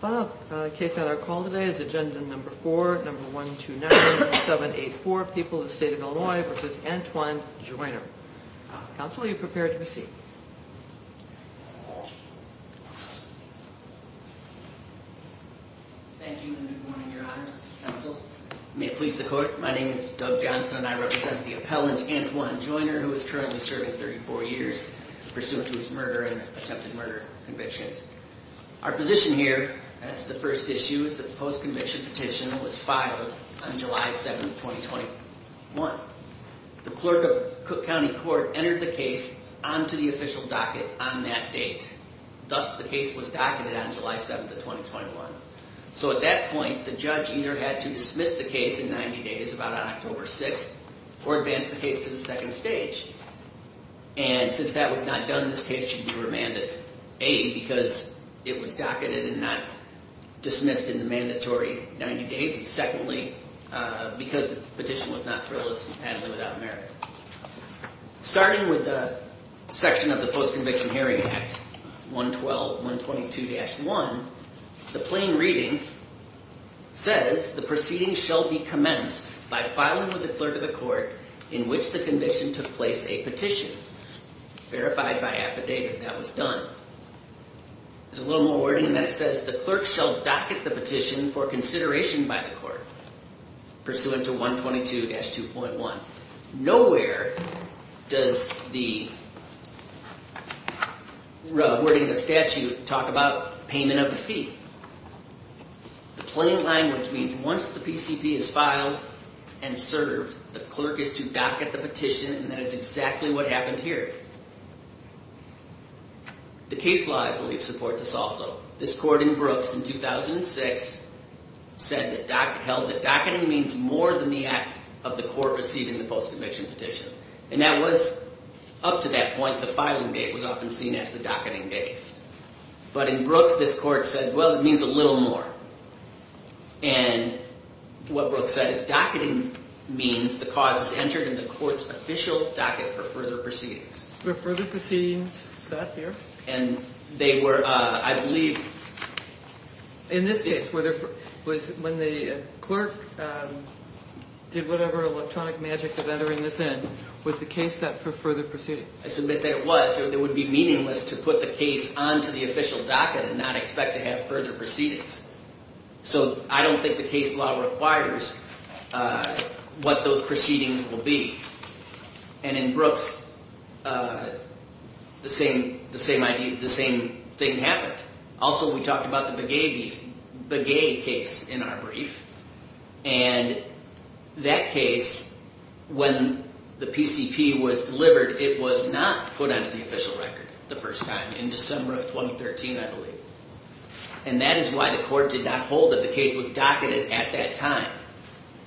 Bob, the case on our call today is agenda number four, number 129784, People of the State of Illinois v. Antoine Joiner. Counsel, are you prepared to proceed? Thank you and good morning, Your Honors. Counsel, may it please the Court, my name is Doug Johnson and I represent the appellant Antoine Joiner, who is currently serving 34 years, pursuant to his murder and attempted murder convictions. Our position here, that's the first issue, is that the post-conviction petition was filed on July 7, 2021. The clerk of Cook County Court entered the case onto the official docket on that date. Thus, the case was docketed on July 7, 2021. So at that point, the judge either had to dismiss the case in 90 days, about on October 6, or advance the case to the second stage. And since that was not done, this case should be remanded. A, because it was docketed and not dismissed in the mandatory 90 days, and secondly, because the petition was not frivolous and patently without merit. Starting with the section of the Post-Conviction Hearing Act, 112-122-1, the plain reading says, the proceeding shall be commenced by filing with the clerk of the court in which the conviction took place a petition, verified by affidavit that was done. There's a little more wording in that it says, the clerk shall docket the petition for consideration by the court. Pursuant to 122-2.1. Nowhere does the wording of the statute talk about payment of the fee. The plain language means once the PCP is filed and served, the clerk is to docket the petition, and that is exactly what happened here. The case law, I believe, supports this also. This court in Brooks, in 2006, held that docketing means more than the act of the court receiving the post-conviction petition. And that was, up to that point, the filing date was often seen as the docketing date. But in Brooks, this court said, well, it means a little more. And what Brooks said is docketing means the cause is entered in the court's official docket for further proceedings. Were further proceedings set here? And they were, I believe... In this case, when the clerk did whatever electronic magic of entering this in, was the case set for further proceedings? I submit that it was. It would be meaningless to put the case onto the official docket and not expect to have further proceedings. So I don't think the case law requires what those proceedings will be. And in Brooks, the same thing happened. Also, we talked about the Begay case in our brief. And that case, when the PCP was delivered, it was not put onto the official record the first time, in December of 2013, I believe. And that is why the court did not hold that the case was docketed at that time.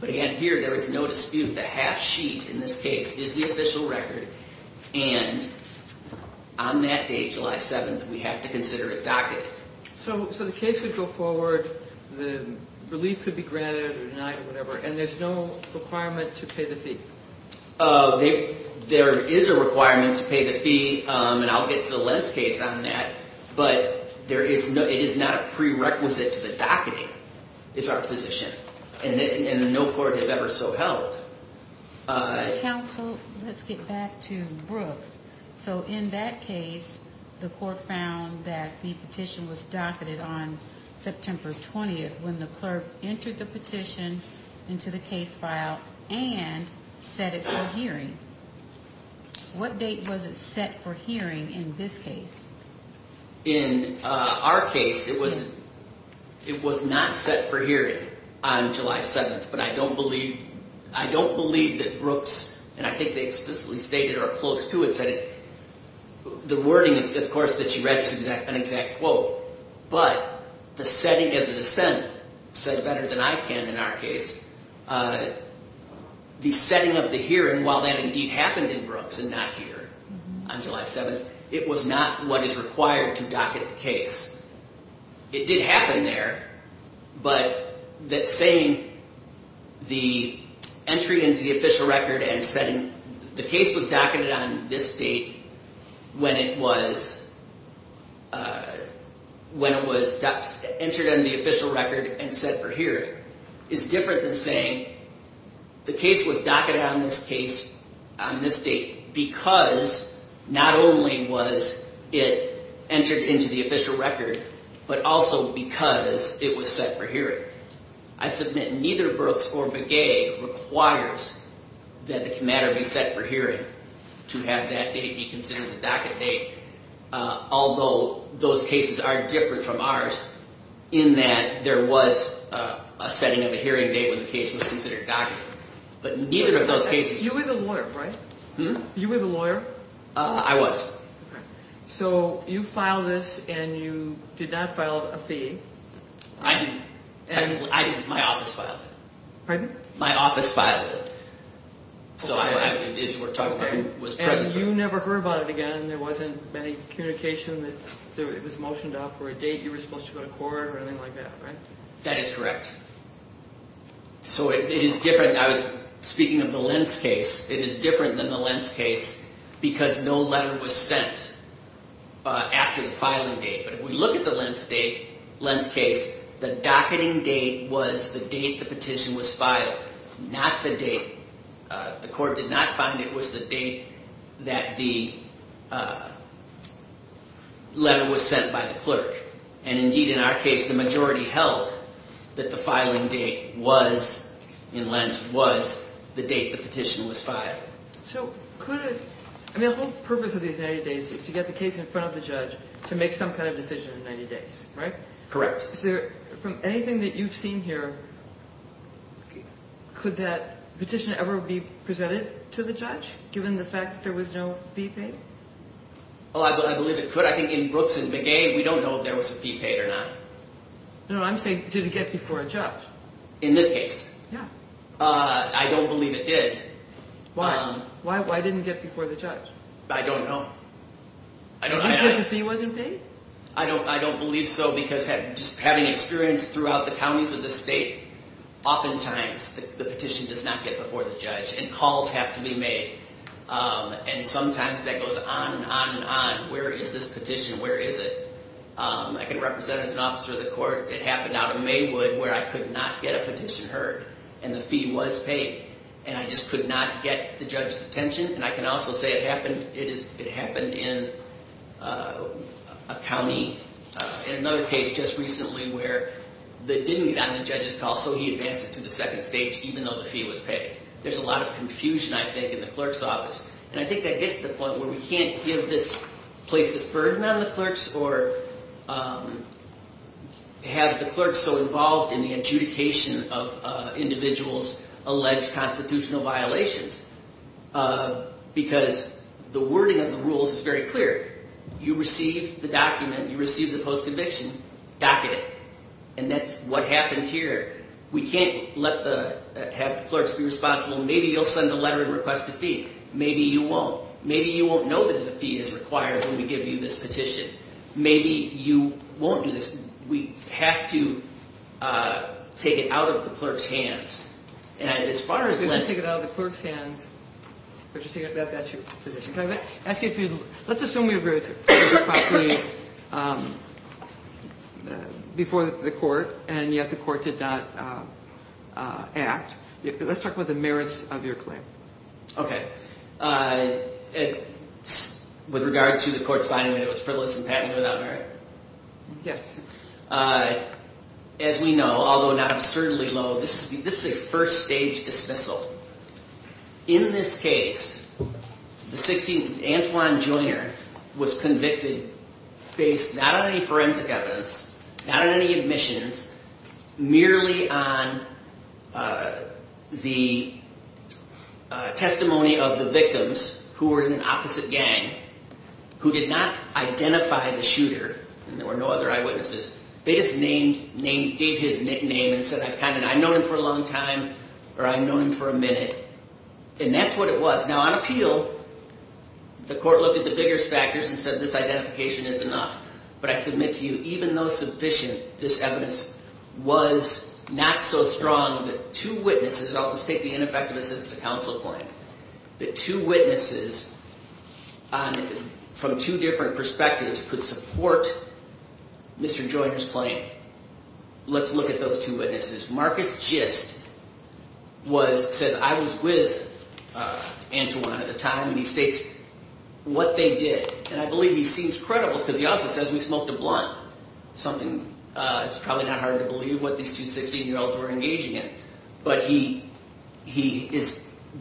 But again, here, there is no dispute. The half sheet in this case is the official record. And on that day, July 7th, we have to consider it docketed. So the case would go forward. The relief could be granted or denied or whatever. And there's no requirement to pay the fee? There is a requirement to pay the fee. And I'll get to the Lenz case on that. But it is not a prerequisite to the docketing, is our position. And no court has ever so held. Counsel, let's get back to Brooks. So in that case, the court found that the petition was docketed on September 20th when the clerk entered the petition into the case file and set it for hearing. What date was it set for hearing in this case? In our case, it was not set for hearing on July 7th. But I don't believe that Brooks, and I think they explicitly stated or are close to it, the wording, of course, that you read is an exact quote. But the setting of the dissent said better than I can in our case. The setting of the hearing, while that indeed happened in Brooks and not here on July 7th, it was not what is required to docket the case. It did happen there. But that saying the entry into the official record and setting, the case was docketed on this date when it was entered into the official record and set for hearing is different than saying the case was docketed on this date because not only was it entered into the official record, but also because it was set for hearing. I submit neither Brooks or Begay requires that the matter be set for hearing to have that date be considered the docket date, although those cases are different from ours in that there was a setting of a hearing date when the case was considered docketed. But neither of those cases... You were the lawyer, right? You were the lawyer? I was. So you filed this and you did not file a fee. I didn't. I didn't. My office filed it. Pardon? My office filed it. Okay. So as you were talking about, it was present. And you never heard about it again. There wasn't any communication that it was motioned off for a date. You were supposed to go to court or anything like that, right? That is correct. So it is different. I was speaking of the Lentz case. It is different than the Lentz case because no letter was sent after the filing date. But if we look at the Lentz case, the docketing date was the date the petition was filed, not the date... The court did not find it was the date that the letter was sent by the clerk. And indeed, in our case, the majority held that the filing date was, in Lentz, was the date the petition was filed. So could it... I mean, the whole purpose of these 90 days is to get the case in front of the judge to make some kind of decision in 90 days, right? Correct. So from anything that you've seen here, could that petition ever be presented to the judge, given the fact that there was no fee paid? Oh, I believe it could. I think in Brooks and Magee, we don't know if there was a fee paid or not. No, I'm saying did it get before a judge. In this case? Yeah. I don't believe it did. Why? Why didn't it get before the judge? I don't know. Because the fee wasn't paid? I don't believe so, because just having experience throughout the counties of the state, oftentimes the petition does not get before the judge, and calls have to be made. And sometimes that goes on and on and on. Where is this petition? Where is it? I can represent it as an officer of the court. It happened out of Maywood, where I could not get a petition heard, and the fee was paid. And I just could not get the judge's attention. And I can also say it happened in a county, in another case just recently, where it didn't get on the judge's call, so he advanced it to the second stage, even though the fee was paid. There's a lot of confusion, I think, in the clerk's office. And I think that gets to the point where we can't place this burden on the clerks or have the clerks so involved in the adjudication of individuals' alleged constitutional violations, because the wording of the rules is very clear. You receive the document, you receive the post-conviction, docket it. And that's what happened here. We can't have the clerks be responsible. Maybe you'll send a letter and request a fee. Maybe you won't. Maybe you won't know that a fee is required when we give you this petition. Maybe you won't do this. We have to take it out of the clerk's hands. And as far as let's... You can take it out of the clerk's hands, but that's your position. Can I ask you a few? Let's assume you agree with me before the court, and yet the court did not act. Let's talk about the merits of your claim. Okay. With regard to the court's finding that it was frivolous and patented without merit? Yes. As we know, although not absurdly low, this is a first-stage dismissal. In this case, the 16th, Antwon Jr. was convicted based not on any forensic evidence, not on any admissions, merely on the testimony of the victims who were in an opposite gang who did not identify the shooter, and there were no other eyewitnesses. They just gave his nickname and said, I've known him for a long time, or I've known him for a minute. And that's what it was. Now, on appeal, the court looked at the biggest factors and said this identification is enough. But I submit to you, even though sufficient, this evidence was not so strong that two witnesses, and I'll just take the ineffective assistance of counsel claim, that two witnesses from two different perspectives could support Mr. Joyner's claim. Let's look at those two witnesses. Marcus Gist says, I was with Antwon at the time, and he states what they did. And I believe he seems credible because he also says we smoked a blunt, something it's probably not hard to believe what these two 16-year-olds were engaging in. But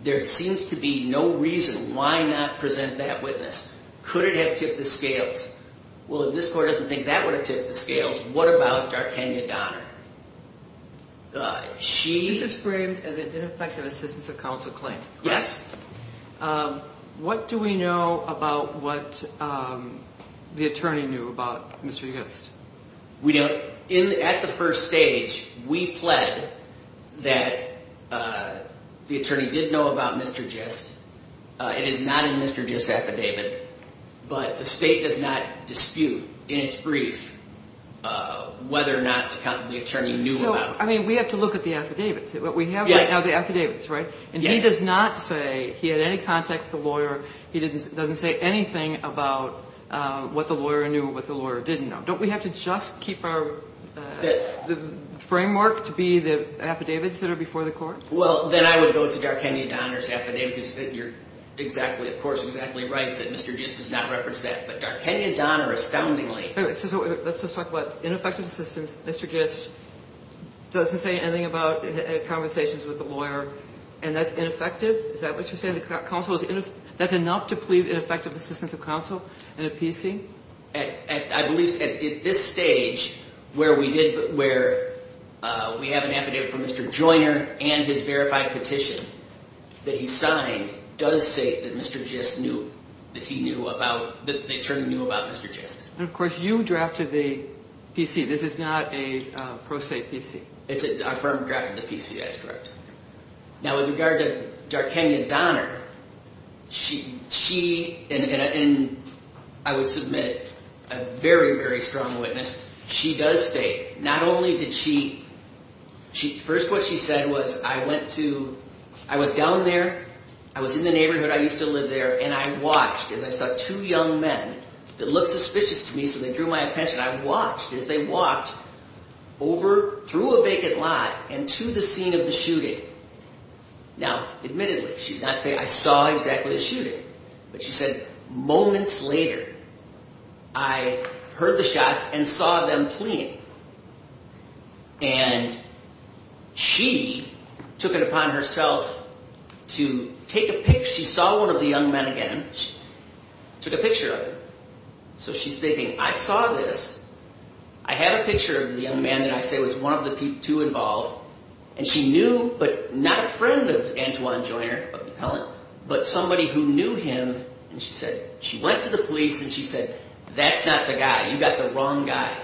there seems to be no reason why not present that witness. Could it have tipped the scales? Well, if this court doesn't think that would have tipped the scales, what about Darkenia Donner? She is framed as an ineffective assistance of counsel claim. Yes. What do we know about what the attorney knew about Mr. Gist? At the first stage, we pled that the attorney did know about Mr. Gist. It is not in Mr. Gist's affidavit. But the state does not dispute in its brief whether or not the attorney knew about him. I mean, we have to look at the affidavits. We have right now the affidavits, right? Yes. And he does not say he had any contact with the lawyer. He doesn't say anything about what the lawyer knew or what the lawyer didn't know. Don't we have to just keep our framework to be the affidavits that are before the court? Well, then I would go to Darkenia Donner's affidavit because you're exactly, of course, exactly right that Mr. Gist does not reference that. But Darkenia Donner astoundingly. So let's just talk about ineffective assistance. Mr. Gist doesn't say anything about conversations with the lawyer, and that's ineffective? Is that what you're saying? That's enough to plead ineffective assistance of counsel in a PC? I believe at this stage where we have an affidavit from Mr. Joyner and his verified petition that he signed does say that Mr. Gist knew, that the attorney knew about Mr. Gist. And, of course, you drafted the PC. This is not a pro se PC. It's a firm draft of the PC. That's correct. Now, with regard to Darkenia Donner, she, and I would submit a very, very strong witness, she does say not only did she, first what she said was I went to, I was down there. I was in the neighborhood. I used to live there. And I watched as I saw two young men that looked suspicious to me, so they drew my attention. I watched as they walked over through a vacant lot and to the scene of the shooting. Now, admittedly, she did not say I saw exactly the shooting. But she said moments later I heard the shots and saw them fleeing. And she took it upon herself to take a picture. She saw one of the young men again. She took a picture of him. So she's thinking I saw this. I have a picture of the young man that I say was one of the two involved. And she knew, but not a friend of Antoine Joyner, of the appellant, but somebody who knew him. And she said she went to the police and she said that's not the guy. You got the wrong guy.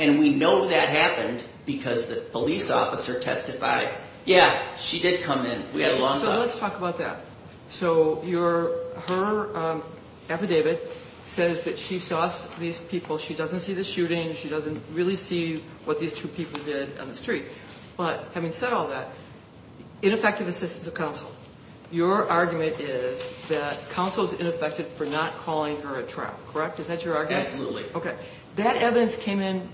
And we know that happened because the police officer testified, yeah, she did come in. We had a long talk. So let's talk about that. So her affidavit says that she saw these people. She doesn't see the shooting. She doesn't really see what these two people did on the street. But having said all that, ineffective assistance of counsel, your argument is that counsel is ineffective for not calling her at trial, correct? Is that your argument? Absolutely. Okay. That evidence came in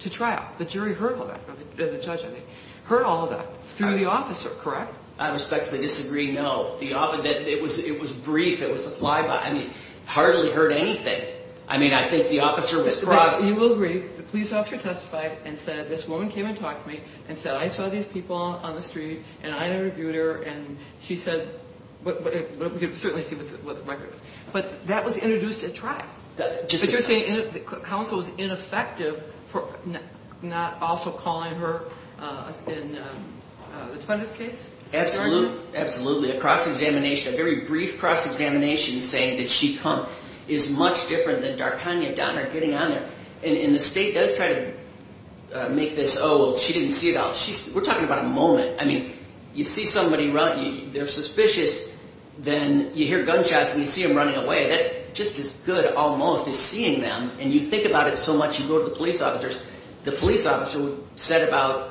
to trial. The jury heard all that, the judge, I think, heard all of that through the officer, correct? I respectfully disagree, no. It was brief. It was a fly-by. I mean, hardly heard anything. I mean, I think the officer was cross. You will agree, the police officer testified and said this woman came and talked to me and said, I saw these people on the street and I interviewed her and she said, but we can certainly see what the record is. But that was introduced at trial. But you're saying counsel was ineffective for not also calling her in the Twentys case? Absolutely. Absolutely. A cross-examination, a very brief cross-examination saying, did she come, is much different than Darkanya Donner getting on there. And the state does try to make this, oh, well, she didn't see it all. We're talking about a moment. I mean, you see somebody run. They're suspicious. Then you hear gunshots and you see them running away. That's just as good almost as seeing them. And you think about it so much, you go to the police officers. The police officer said about,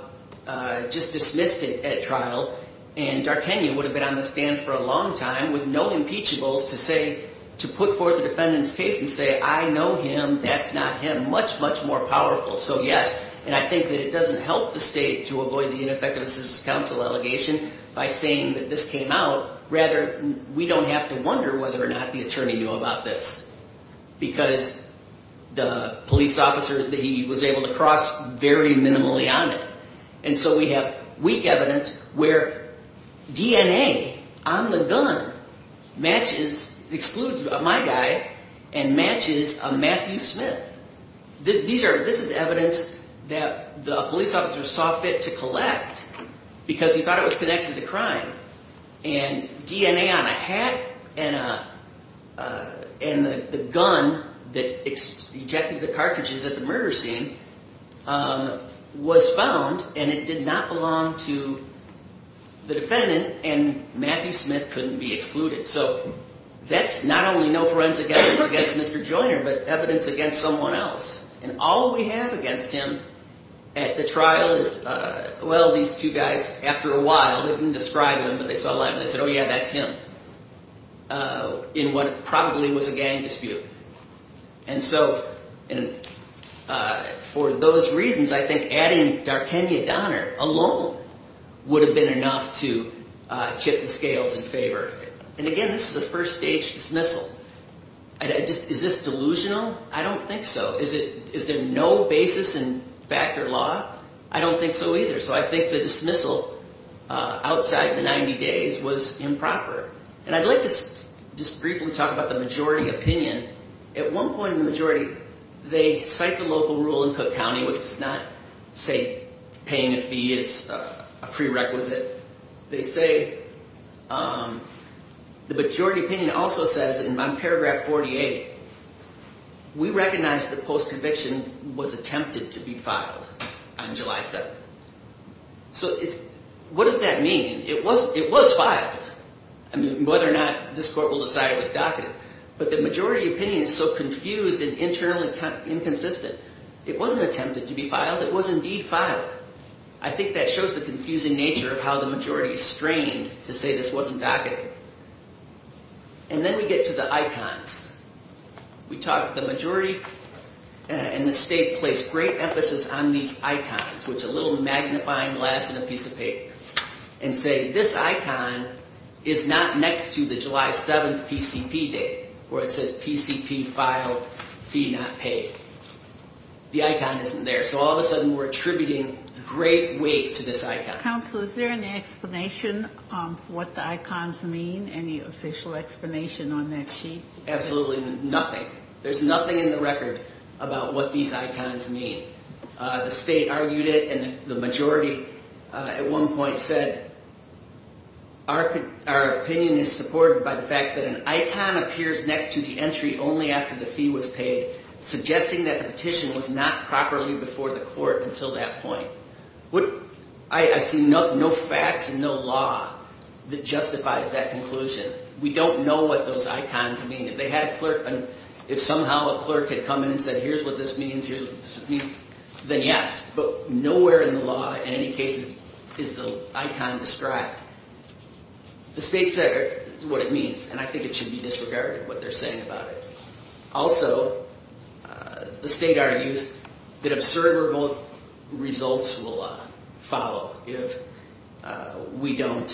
just dismissed it at trial, and Darkanya would have been on the stand for a long time with no impeachables to say, to put forth the defendant's case and say, I know him, that's not him. Much, much more powerful. So, yes, and I think that it doesn't help the state to avoid the ineffective assistance counsel allegation by saying that this came out. Rather, we don't have to wonder whether or not the attorney knew about this because the police officer, he was able to cross very minimally on it. And so we have weak evidence where DNA on the gun matches, excludes my guy and matches a Matthew Smith. This is evidence that the police officer saw fit to collect because he thought it was connected to crime. And DNA on a hat and the gun that ejected the cartridges at the murder scene was found and it did not belong to the defendant and Matthew Smith couldn't be excluded. So that's not only no forensic evidence against Mr. Joyner, but evidence against someone else. And all we have against him at the trial is, well, these two guys, after a while, they didn't describe him, but they saw the line and they said, oh, yeah, that's him, in what probably was a gang dispute. And so for those reasons, I think adding D'Arkandia Donner alone would have been enough to chip the scales in favor. And, again, this is a first-stage dismissal. Is this delusional? I don't think so. Is there no basis in factor law? I don't think so either. So I think the dismissal outside the 90 days was improper. And I'd like to just briefly talk about the majority opinion. At one point in the majority, they cite the local rule in Cook County, which does not say paying a fee is a prerequisite. They say the majority opinion also says in paragraph 48, we recognize that post-conviction was attempted to be filed on July 7th. So what does that mean? It was filed. I mean, whether or not this court will decide it was docketed. But the majority opinion is so confused and internally inconsistent. It wasn't attempted to be filed. It was indeed filed. I think that shows the confusing nature of how the majority is strained to say this wasn't docketed. And then we get to the icons. The majority and the state place great emphasis on these icons, which is a little magnifying glass and a piece of paper, and say this icon is not next to the July 7th PCP date, where it says PCP filed, fee not paid. The icon isn't there. So all of a sudden we're attributing great weight to this icon. Counsel, is there an explanation of what the icons mean? Any official explanation on that sheet? Absolutely nothing. There's nothing in the record about what these icons mean. The state argued it, and the majority at one point said, our opinion is supported by the fact that an icon appears next to the entry only after the fee was paid, suggesting that the petition was not properly before the court until that point. I see no facts and no law that justifies that conclusion. We don't know what those icons mean. If somehow a clerk had come in and said, here's what this means, here's what this means, then yes. But nowhere in the law in any cases is the icon described. The state said it's what it means, and I think it should be disregarded what they're saying about it. Also, the state argues that observable results will follow if we don't,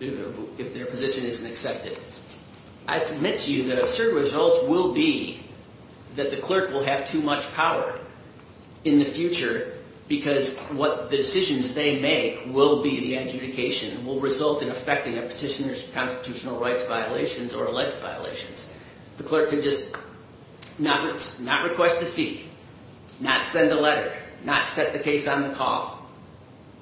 if their position isn't accepted. I submit to you that observable results will be that the clerk will have too much power in the future because what decisions they make will be the adjudication, and will result in affecting a petitioner's constitutional rights violations or elect violations. The clerk could just not request a fee, not send a letter, not set the case on the call,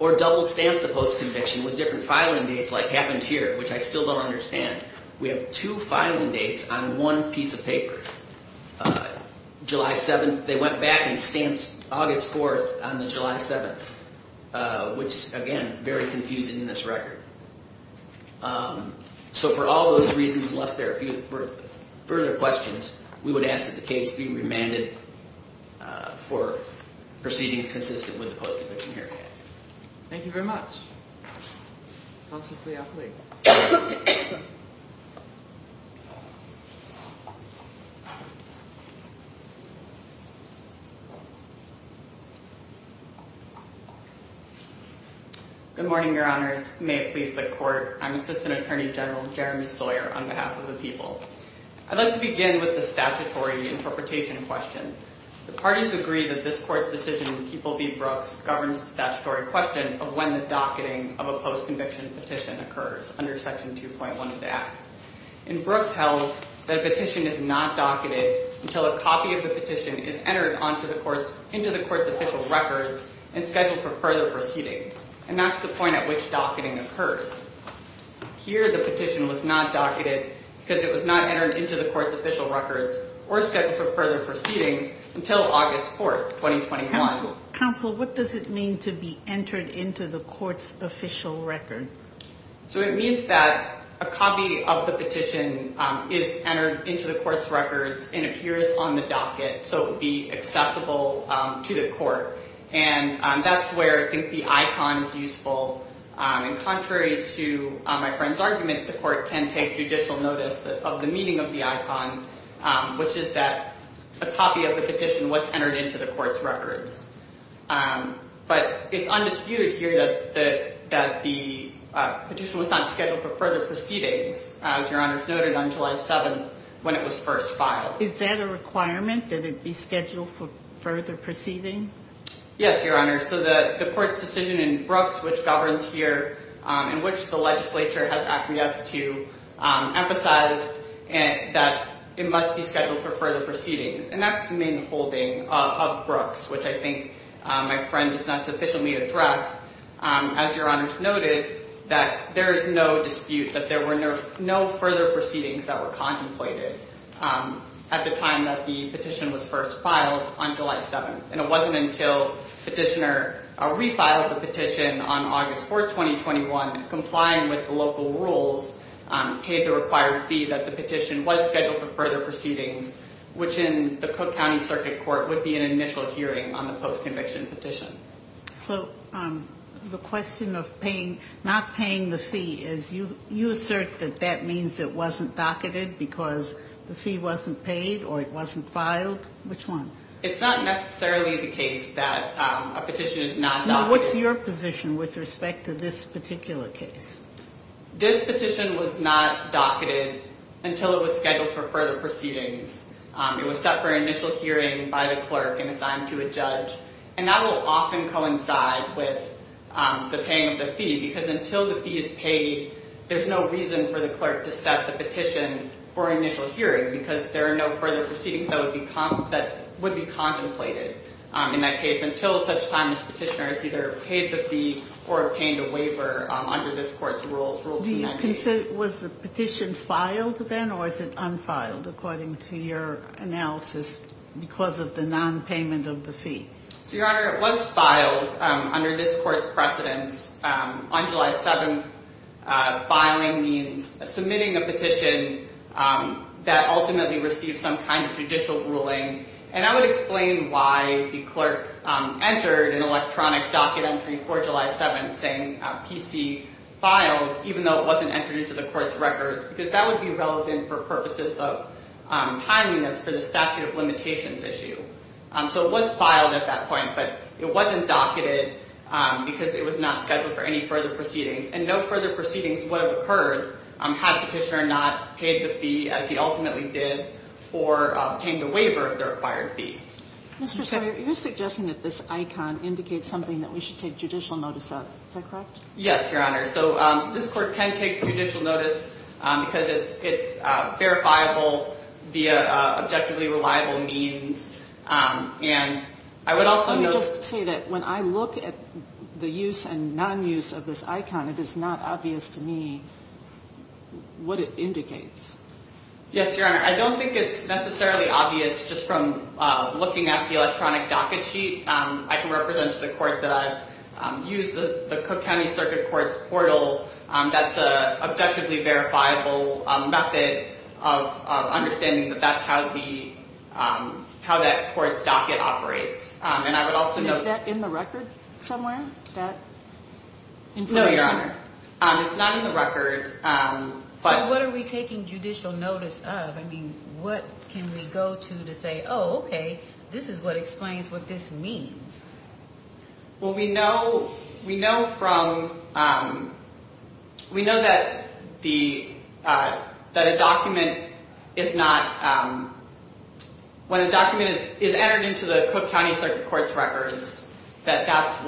or double-stamp the post-conviction with different filing dates like happened here, which I still don't understand. We have two filing dates on one piece of paper. July 7th, they went back and stamped August 4th on the July 7th, which, again, very confusing in this record. So for all those reasons, unless there are further questions, we would ask that the case be remanded for proceedings consistent with the post-conviction area. Thank you very much. Good morning, Your Honors. May it please the Court, I'm Assistant Attorney General Jeremy Sawyer on behalf of the people. I'd like to begin with the statutory interpretation question. The parties agree that this Court's decision in Keeple v. Brooks governs the statutory question of when the docketing of a post-conviction petition occurs under Section 2.1 of the Act. In Brooks, held that a petition is not docketed until a copy of the petition is entered into the Court's official records and scheduled for further proceedings, and that's the point at which docketing occurs. Here, the petition was not docketed because it was not entered into the Court's official records or scheduled for further proceedings until August 4th, 2021. Counsel, what does it mean to be entered into the Court's official record? So it means that a copy of the petition is entered into the Court's records and appears on the docket so it would be accessible to the Court. And that's where I think the icon is useful. And contrary to my friend's argument, the Court can take judicial notice of the meaning of the icon, which is that a copy of the petition was entered into the Court's records. But it's undisputed here that the petition was not scheduled for further proceedings, as Your Honor has noted, on July 7th when it was first filed. Is that a requirement that it be scheduled for further proceeding? Yes, Your Honor. So the Court's decision in Brooks, which governs here and which the legislature has acquiesced to, emphasized that it must be scheduled for further proceedings. And that's the main holding of Brooks, which I think my friend does not sufficiently address. As Your Honor's noted, that there is no dispute that there were no further proceedings that were contemplated at the time that the petition was first filed on July 7th. And it wasn't until Petitioner refiled the petition on August 4th, 2021, complying with the local rules, paid the required fee, that the petition was scheduled for further proceedings, which in the Cook County Circuit Court would be an initial hearing on the post-conviction petition. So the question of not paying the fee, you assert that that means it wasn't docketed because the fee wasn't paid or it wasn't filed. Which one? It's not necessarily the case that a petition is not docketed. What's your position with respect to this particular case? This petition was not docketed until it was scheduled for further proceedings. It was set for initial hearing by the clerk and assigned to a judge. And that will often coincide with the paying of the fee because until the fee is paid, there's no reason for the clerk to set the petition for initial hearing because there are no further proceedings that would be contemplated in that case until such time as Petitioner has either paid the fee or obtained a waiver under this court's rules. Was the petition filed then or is it unfiled, according to your analysis, because of the non-payment of the fee? So, Your Honor, it was filed under this court's precedence. On July 7th, filing means submitting a petition that ultimately receives some kind of judicial ruling. And I would explain why the clerk entered an electronic docket entry for July 7th saying PC filed, even though it wasn't entered into the court's records because that would be relevant for purposes of timeliness for the statute of limitations issue. So it was filed at that point, but it wasn't docketed because it was not scheduled for any further proceedings. And no further proceedings would have occurred had Petitioner not paid the fee as he ultimately did or obtained a waiver of the required fee. Mr. Sawyer, you're suggesting that this icon indicates something that we should take judicial notice of. Is that correct? Yes, Your Honor. So this court can take judicial notice because it's verifiable via objectively reliable means. And I would also note... Let me just say that when I look at the use and non-use of this icon, it is not obvious to me what it indicates. Yes, Your Honor. I don't think it's necessarily obvious just from looking at the electronic docket sheet. I can represent to the court that I've used the Cook County Circuit Court's portal that's an objectively verifiable method of understanding that that's how that court's docket operates. And I would also note... Is that in the record somewhere? No, Your Honor. It's not in the record. So what are we taking judicial notice of? I mean, what can we go to to say, oh, okay, this is what explains what this means. Well, we know from... We know that a document is not... When a document is entered into the Cook County Circuit Court's records, that that's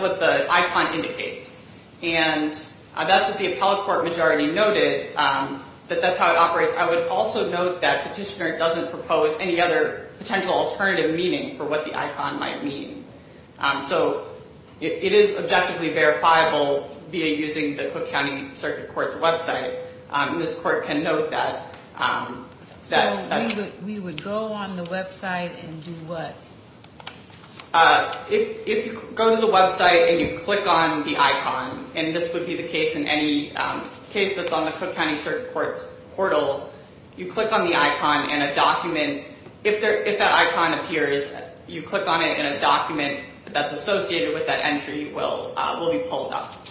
what the icon indicates. And that's what the appellate court majority noted, that that's how it operates. I would also note that Petitioner doesn't propose any other potential alternative meaning for what the icon might mean. So it is objectively verifiable via using the Cook County Circuit Court's website. And this court can note that. So we would go on the website and do what? If you go to the website and you click on the icon, and this would be the case in any case that's on the Cook County Circuit Court's portal, you click on the icon and a document... If that icon appears, you click on it and a document that's associated with that entry will be pulled up.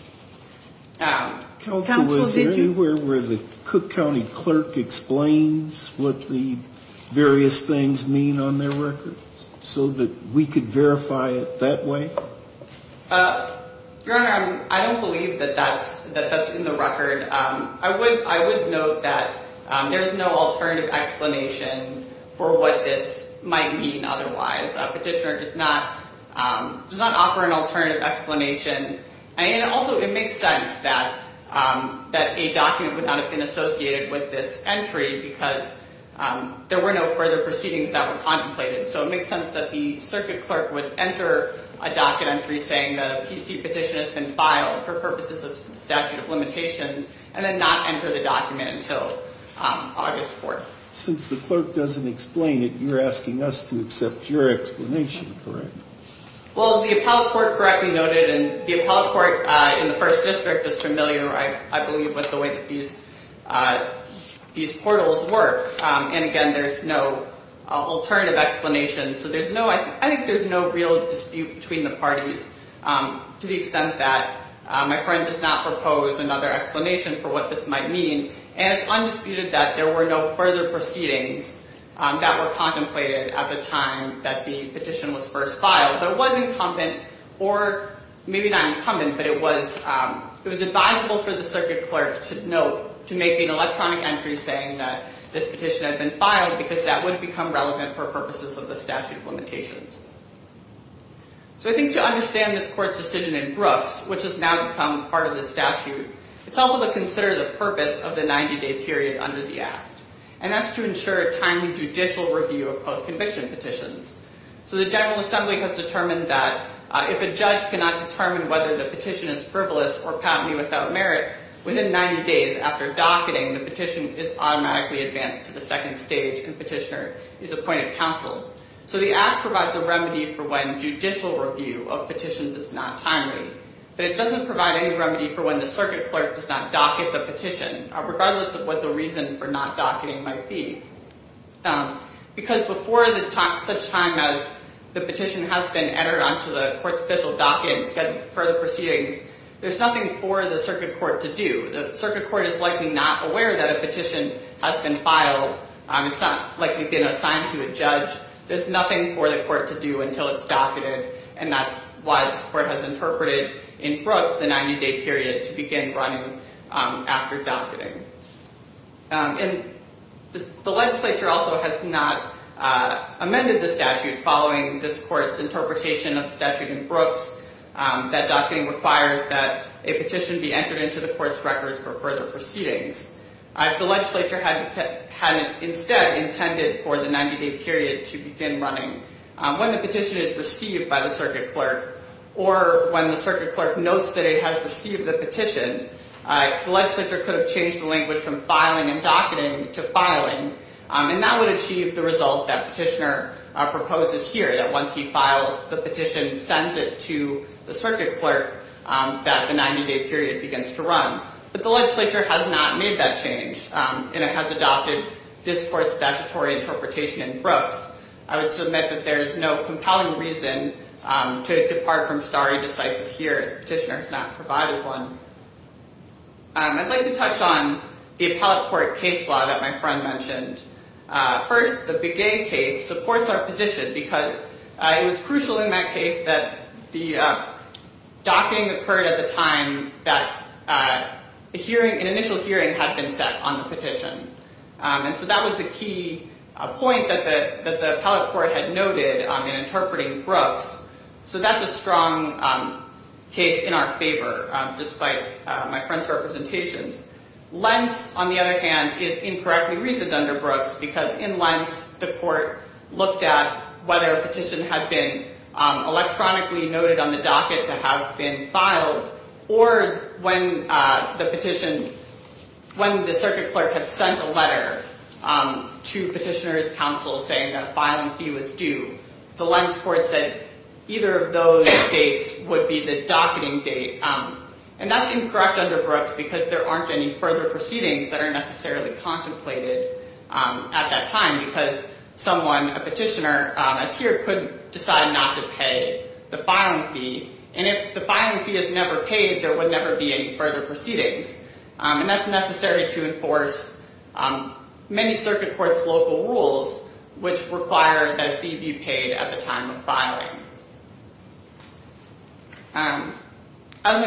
Counsel, is there anywhere where the Cook County clerk explains what the various things mean on their records so that we could verify it that way? Your Honor, I don't believe that that's in the record. I would note that there's no alternative explanation for what this might mean otherwise. Petitioner does not offer an alternative explanation. And also it makes sense that a document would not have been associated with this entry because there were no further proceedings that were contemplated. So it makes sense that the circuit clerk would enter a docket entry saying that a PC petition has been filed for purposes of statute of limitations and then not enter the document until August 4th. Since the clerk doesn't explain it, you're asking us to accept your explanation, correct? Well, the appellate court correctly noted and the appellate court in the First District is familiar, I believe, with the way that these portals work. And again, there's no alternative explanation. So I think there's no real dispute between the parties to the extent that my friend does not propose another explanation for what this might mean. And it's undisputed that there were no further proceedings that were contemplated at the time that the petition was first filed. But it was incumbent, or maybe not incumbent, but it was advisable for the circuit clerk to note, to make an electronic entry saying that this petition had been filed because that would become relevant for purposes of the statute of limitations. So I think to understand this court's decision in Brooks, which has now become part of the statute, it's helpful to consider the purpose of the 90-day period under the Act. And that's to ensure a timely judicial review of post-conviction petitions. So the General Assembly has determined that if a judge cannot determine whether the petition is frivolous or patently without merit, within 90 days after docketing, the petition is automatically advanced to the second stage and the petitioner is appointed counsel. So the Act provides a remedy for when judicial review of petitions is not timely. But it doesn't provide any remedy for when the circuit clerk does not docket the petition, regardless of what the reason for not docketing might be. Because before such time as the petition has been entered onto the court's official docket and scheduled for further proceedings, there's nothing for the circuit court to do. The circuit court is likely not aware that a petition has been filed, likely been assigned to a judge. There's nothing for the court to do until it's docketed, and that's why this court has interpreted in Brooks the 90-day period to begin running after docketing. And the legislature also has not amended the statute following this court's interpretation of the statute in Brooks that docketing requires that a petition be entered into the court's records for further proceedings. The legislature had instead intended for the 90-day period to begin running when the petition is received by the circuit clerk or when the circuit clerk notes that it has received the petition. The legislature could have changed the language from filing and docketing to filing, and that would achieve the result that Petitioner proposes here, that once he files the petition and sends it to the circuit clerk, that the 90-day period begins to run. But the legislature has not made that change, and it has adopted this court's statutory interpretation in Brooks. I would submit that there is no compelling reason to depart from stare decisis here, as Petitioner has not provided one. I'd like to touch on the appellate court case law that my friend mentioned. First, the Begay case supports our position because it was crucial in that case that the docketing occurred at the time that an initial hearing had been set on the petition. And so that was the key point that the appellate court had noted in interpreting Brooks. So that's a strong case in our favor, despite my friend's representations. Lentz, on the other hand, is incorrectly reasoned under Brooks because in Lentz, the court looked at whether a petition had been electronically noted on the docket to have been filed, or when the petition... when the circuit clerk had sent a letter to Petitioner's counsel saying that a filing fee was due. The Lentz court said either of those dates would be the docketing date. And that's incorrect under Brooks because there aren't any further proceedings that are necessarily contemplated at that time because someone, a petitioner, as here, could decide not to pay the filing fee. And if the filing fee is never paid, I think there would never be any further proceedings. And that's necessary to enforce many circuit courts' local rules which require that a fee be paid at the time of filing. As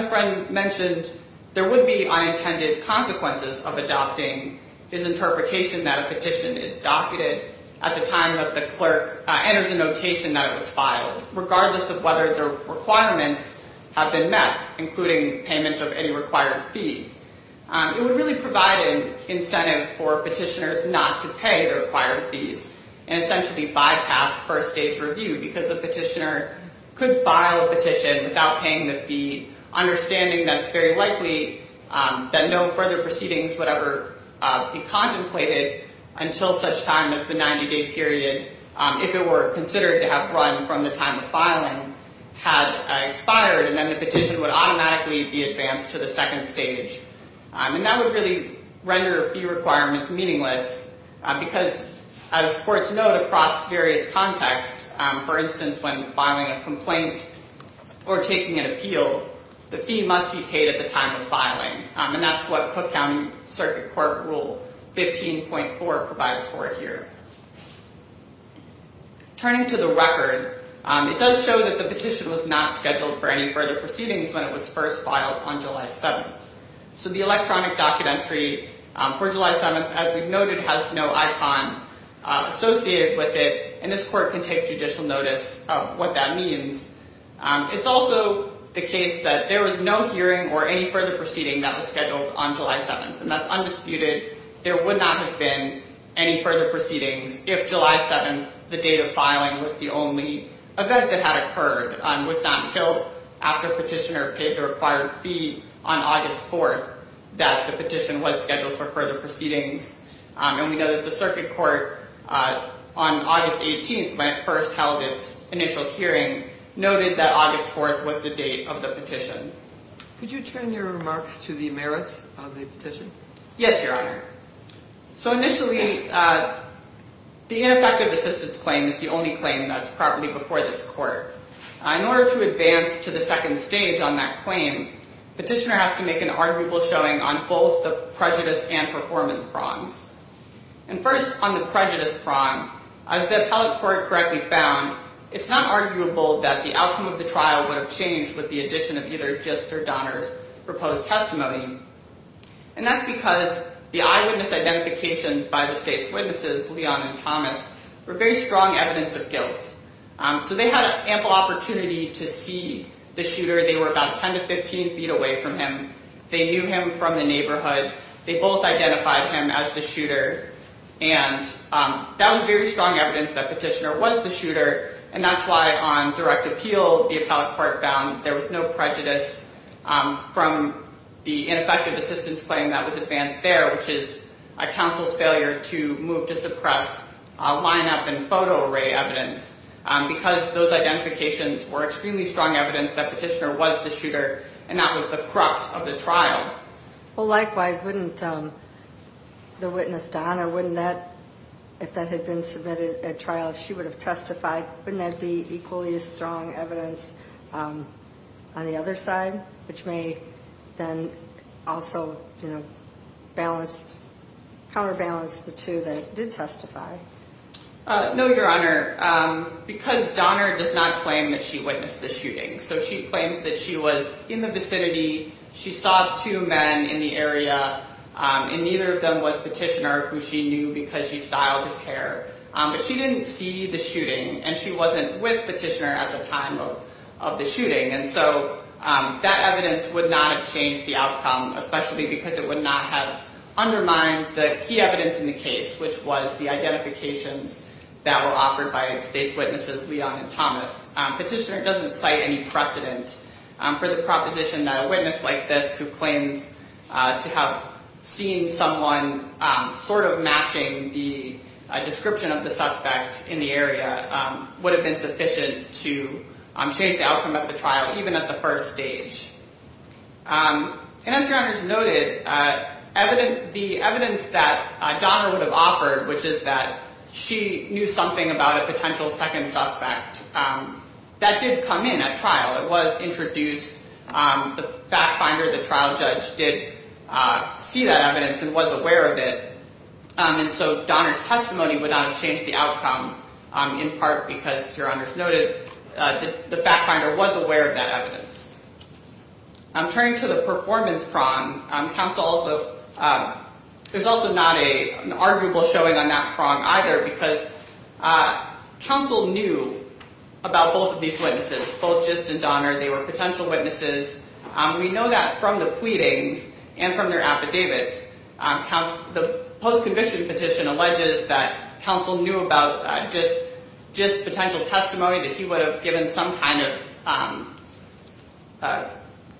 my friend mentioned, there would be unintended consequences of adopting his interpretation that a petition is docketed at the time that the clerk enters a notation that it was filed, regardless of whether the requirements have been met, including payment of any required fee. It would really provide an incentive for petitioners not to pay the required fees and essentially bypass first-stage review because a petitioner could file a petition without paying the fee, understanding that it's very likely that no further proceedings would ever be contemplated until such time as the 90-day period, if it were considered to have run from the time of filing, had expired, and then the petition would automatically be advanced to the second stage. And that would really render fee requirements meaningless because, as courts note across various contexts, for instance, when filing a complaint or taking an appeal, the fee must be paid at the time of filing. And that's what Cook County Circuit Court Rule 15.4 provides for here. Turning to the record, it does show that the petition was not scheduled for any further proceedings when it was first filed on July 7th. So the electronic docket entry for July 7th, as we've noted, has no icon associated with it, and this court can take judicial notice of what that means. It's also the case that there was no hearing or any further proceeding that was scheduled on July 7th, and that's undisputed. There would not have been any further proceedings if July 7th, the date of filing, was the only event that had occurred. It was not until after the petitioner paid the required fee on August 4th that the petition was scheduled for further proceedings. And we know that the circuit court, on August 18th, when it first held its initial hearing, noted that August 4th was the date of the petition. Could you turn your remarks to the merits of the petition? Yes, Your Honor. So initially, the ineffective assistance claim is the only claim that's properly before this court. In order to advance to the second stage on that claim, petitioner has to make an arguable showing on both the prejudice and performance prongs. And first, on the prejudice prong, as the appellate court correctly found, it's not arguable that the outcome of the trial would have changed with the addition of either Gist or Donner's proposed testimony. And that's because the eyewitness identifications by the state's witnesses, Leon and Thomas, were very strong evidence of guilt. So they had ample opportunity to see the shooter. They were about 10 to 15 feet away from him. They knew him from the neighborhood. They both identified him as the shooter. And that was very strong evidence that petitioner was the shooter. And that's why on direct appeal, the appellate court found there was no prejudice from the ineffective assistance claim that was advanced there, which is a counsel's failure to move to suppress lineup and photo array evidence. Because those identifications were extremely strong evidence that petitioner was the shooter and not with the crux of the trial. Well, likewise, wouldn't the witness, Donna, wouldn't that, if that had been submitted at trial, if she would have testified, wouldn't that be equally as strong evidence on the other side, which may then also balance, counterbalance the two that did testify? No, Your Honor. Because Donner does not claim that she witnessed the shooting. So she claims that she was in the vicinity. She saw two men in the area. And neither of them was petitioner, who she knew because she styled his hair, but she didn't see the shooting and she wasn't with petitioner at the time of the shooting. And so that evidence would not have changed the outcome, especially because it would not have undermined the key evidence in the case, which was the identifications that were offered by state's witnesses, Leon and Thomas. Petitioner doesn't cite any precedent for the proposition that a witness like this who claims to have seen someone sort of matching the description of the suspect in the area would have been sufficient to change the outcome of the trial, even at the first stage. And as Your Honor's noted, the evidence that Donner would have offered, which is that she knew something about a potential second suspect, that did come in at trial. It was introduced. The fact finder, the trial judge, did see that evidence and was aware of it. And so Donner's testimony would not have changed the outcome, in part because, Your Honor's noted, the fact finder was aware of that evidence. Turning to the performance prong, there's also not an arguable showing on that prong either because counsel knew about both of these witnesses, both Gist and Donner. They were potential witnesses. We know that from the pleadings and from their affidavits. The post-conviction petition alleges that counsel knew about Gist's potential testimony that he would have given some kind of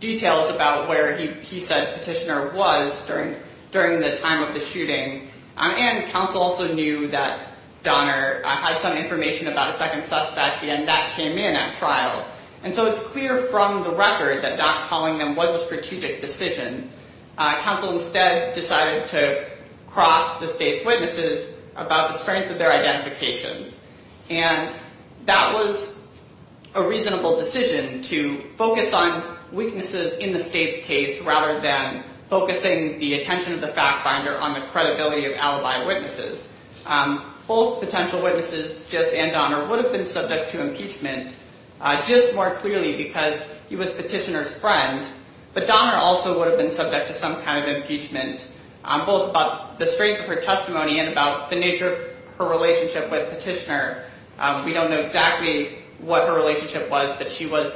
details about where he said Petitioner was during the time of the shooting. And counsel also knew that Gist and Donner were potential witnesses. And so it's clear from the record that not calling them was a strategic decision. Counsel instead decided to cross the state's witnesses about the strength of their identifications. And that was a reasonable decision to focus on weaknesses in the state's case rather than focusing the attention of the fact finder on the credibility of alibi witnesses. Both potential witnesses, Gist and Donner would have been subject to impeachment. Gist more clearly because he was Petitioner's friend but Donner also would have been subject to some kind of impeachment both about the strength of her testimony and about the nature of her relationship with Petitioner. We don't know exactly what her relationship was but she was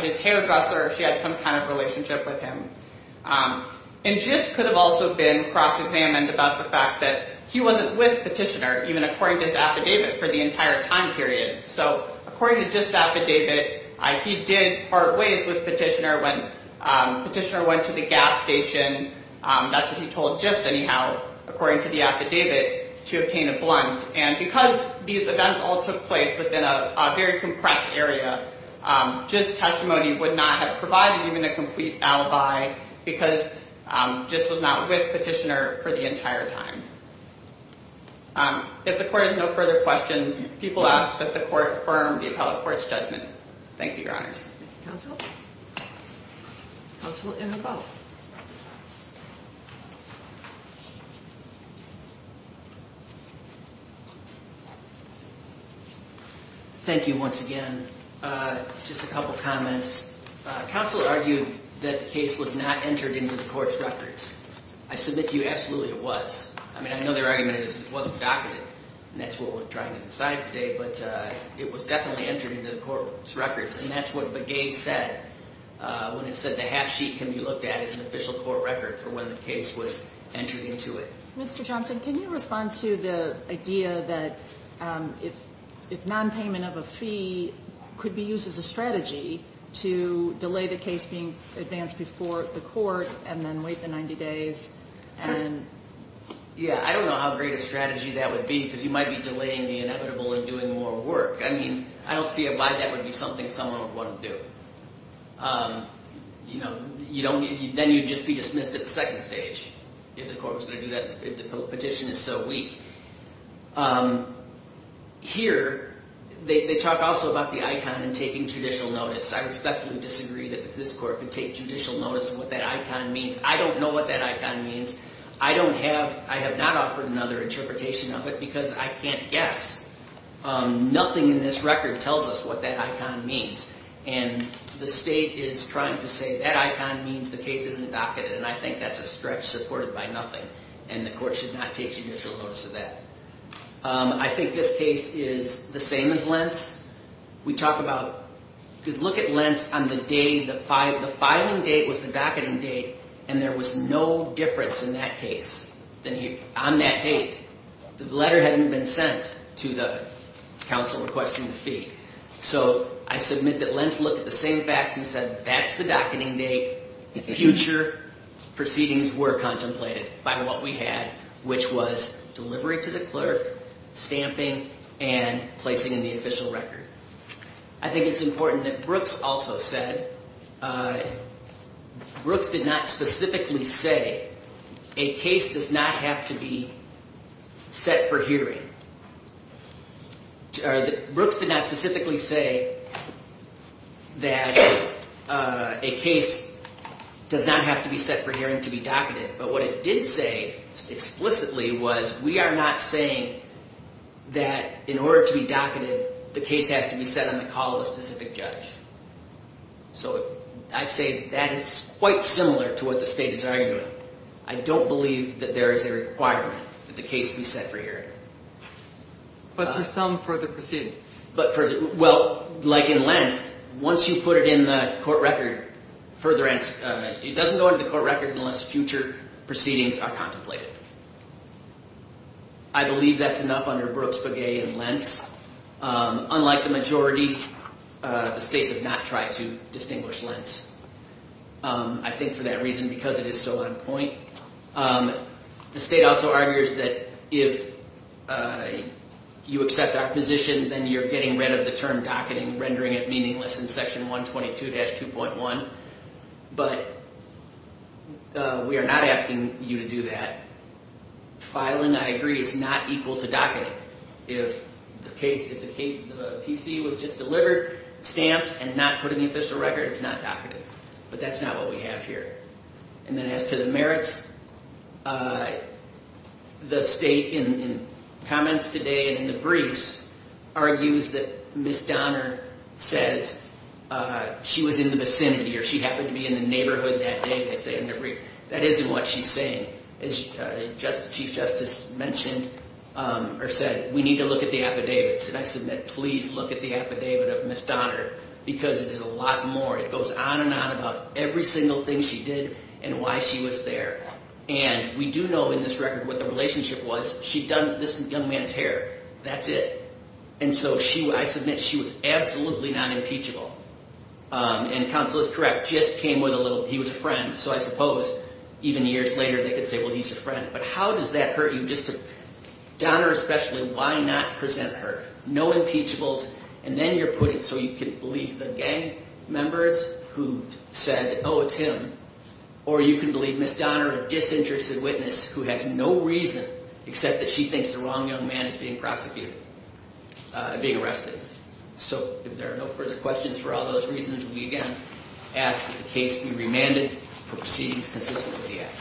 his hairdresser, she had some kind of relationship with him. And Gist could have also been cross-examined about the fact that he wasn't with Petitioner even according to his affidavit for the entire time period. So according to Gist's affidavit, he did part ways with Petitioner when Petitioner went to the gas station. That's what he told Gist anyhow according to the affidavit to obtain a blunt. And because these events all took place within a very compressed area, Gist's testimony would not have provided even a complete alibi because Gist was not with Petitioner for the entire time. If the Court has no further questions, people ask that the Court affirm the Appellate Court's judgment. Thank you, Your Honors. Counsel? Counsel, you have a vote. Thank you once again. Just a couple comments. Counsel argued that the case was not entered into the Court's records. I submit to you absolutely it was. I mean, I know their argument is it wasn't documented and that's what we're trying to decide today, but it was definitely entered into the Court's records and that's what Begay said when it said the half sheet can be looked at as an official court record for when the case was entered into it. Mr. Johnson, can you respond to the idea that if nonpayment of a fee could be used as a strategy to delay the case being advanced before the Court and then wait the 90 days? Yeah. I don't know how great a strategy that would be because you might be delaying the inevitable and doing more work. I mean, I don't see why that would be something someone would want to do. Then you'd just be dismissed at the second stage if the Court was going to do that if the petition is so weak. Here, they talk also about the icon and taking judicial notice. I respectfully disagree that this Court could take judicial notice of what that icon means. I don't know what that icon means. I have not offered another interpretation of it because I can't guess. Nothing in this record tells us what that icon means and the State is trying to say that icon means the case isn't docketed and I think that's a stretch supported by nothing and the Court should not take judicial notice of that. I think this case is the same as Lentz. Look at Lentz on the day the filing date was the docketing date and there was no difference in that case on that date. The letter hadn't been sent to the counsel requesting the fee. So I submit that Lentz looked at the same facts and said that's the docketing date. Future proceedings were contemplated by what we had which was delivery to the clerk, stamping and placing in the official record. I think it's important that Brooks also said Brooks did not specifically say a case does not have to be set for hearing. Brooks did not specifically say that a case does not have to be set for hearing to be docketed but what it did say explicitly was we are not saying that in order to be docketed the case has to be set on the call of a specific judge. So I say that is quite similar to what the State is arguing. I don't believe that there is a requirement that the case be set for hearing. But for some further proceedings? Well, like in Lentz, once you put it in the court record, it doesn't go into the court record unless future proceedings are contemplated. I believe that's enough under Brooks, Begay and Lentz. Unlike the majority, the State does not try to distinguish Lentz. I think for that reason because it is so on point. The State also argues that if you accept our position, then you're getting rid of the term docketing, rendering it meaningless in Section 122-2.1. But we are not asking you to do that. Filing, I agree, is not equal to docketing. If the PC was just delivered, stamped and not put in the official record, it's not docketed. But that's not what we have here. And then as to the merits, the State, in comments today and in the briefs, argues that Ms. Donner says she was in the vicinity or she happened to be in the neighborhood that day. That isn't what she's saying. As Chief Justice mentioned or said, we need to look at the affidavits. And I submit, please look at the affidavit of Ms. Donner because it is a lot more. It goes on and on about every single thing she did and why she was there. And we do know in this record what the relationship was. She'd done this young man's hair. That's it. And so she, I submit, she was absolutely not impeachable. And counsel is correct, just came with a little, he was a friend. So I suppose even years later they could say, well, he's a friend. But how does that hurt you just to, Donner especially, why not present her? No impeachables. And then you're putting, so you can believe the gang members who said, oh, it's him. Or you can believe Ms. Donner, a disinterested witness who has no reason except that she thinks the wrong young man is being prosecuted and being arrested. So if there are no further questions for all those reasons, we again ask that the case be remanded. Proceedings consistent with the Act.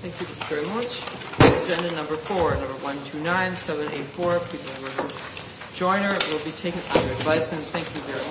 Thank you very much. Agenda number four, number 129784. Please remember to join her. It will be taken from your advisement. Thank you very much.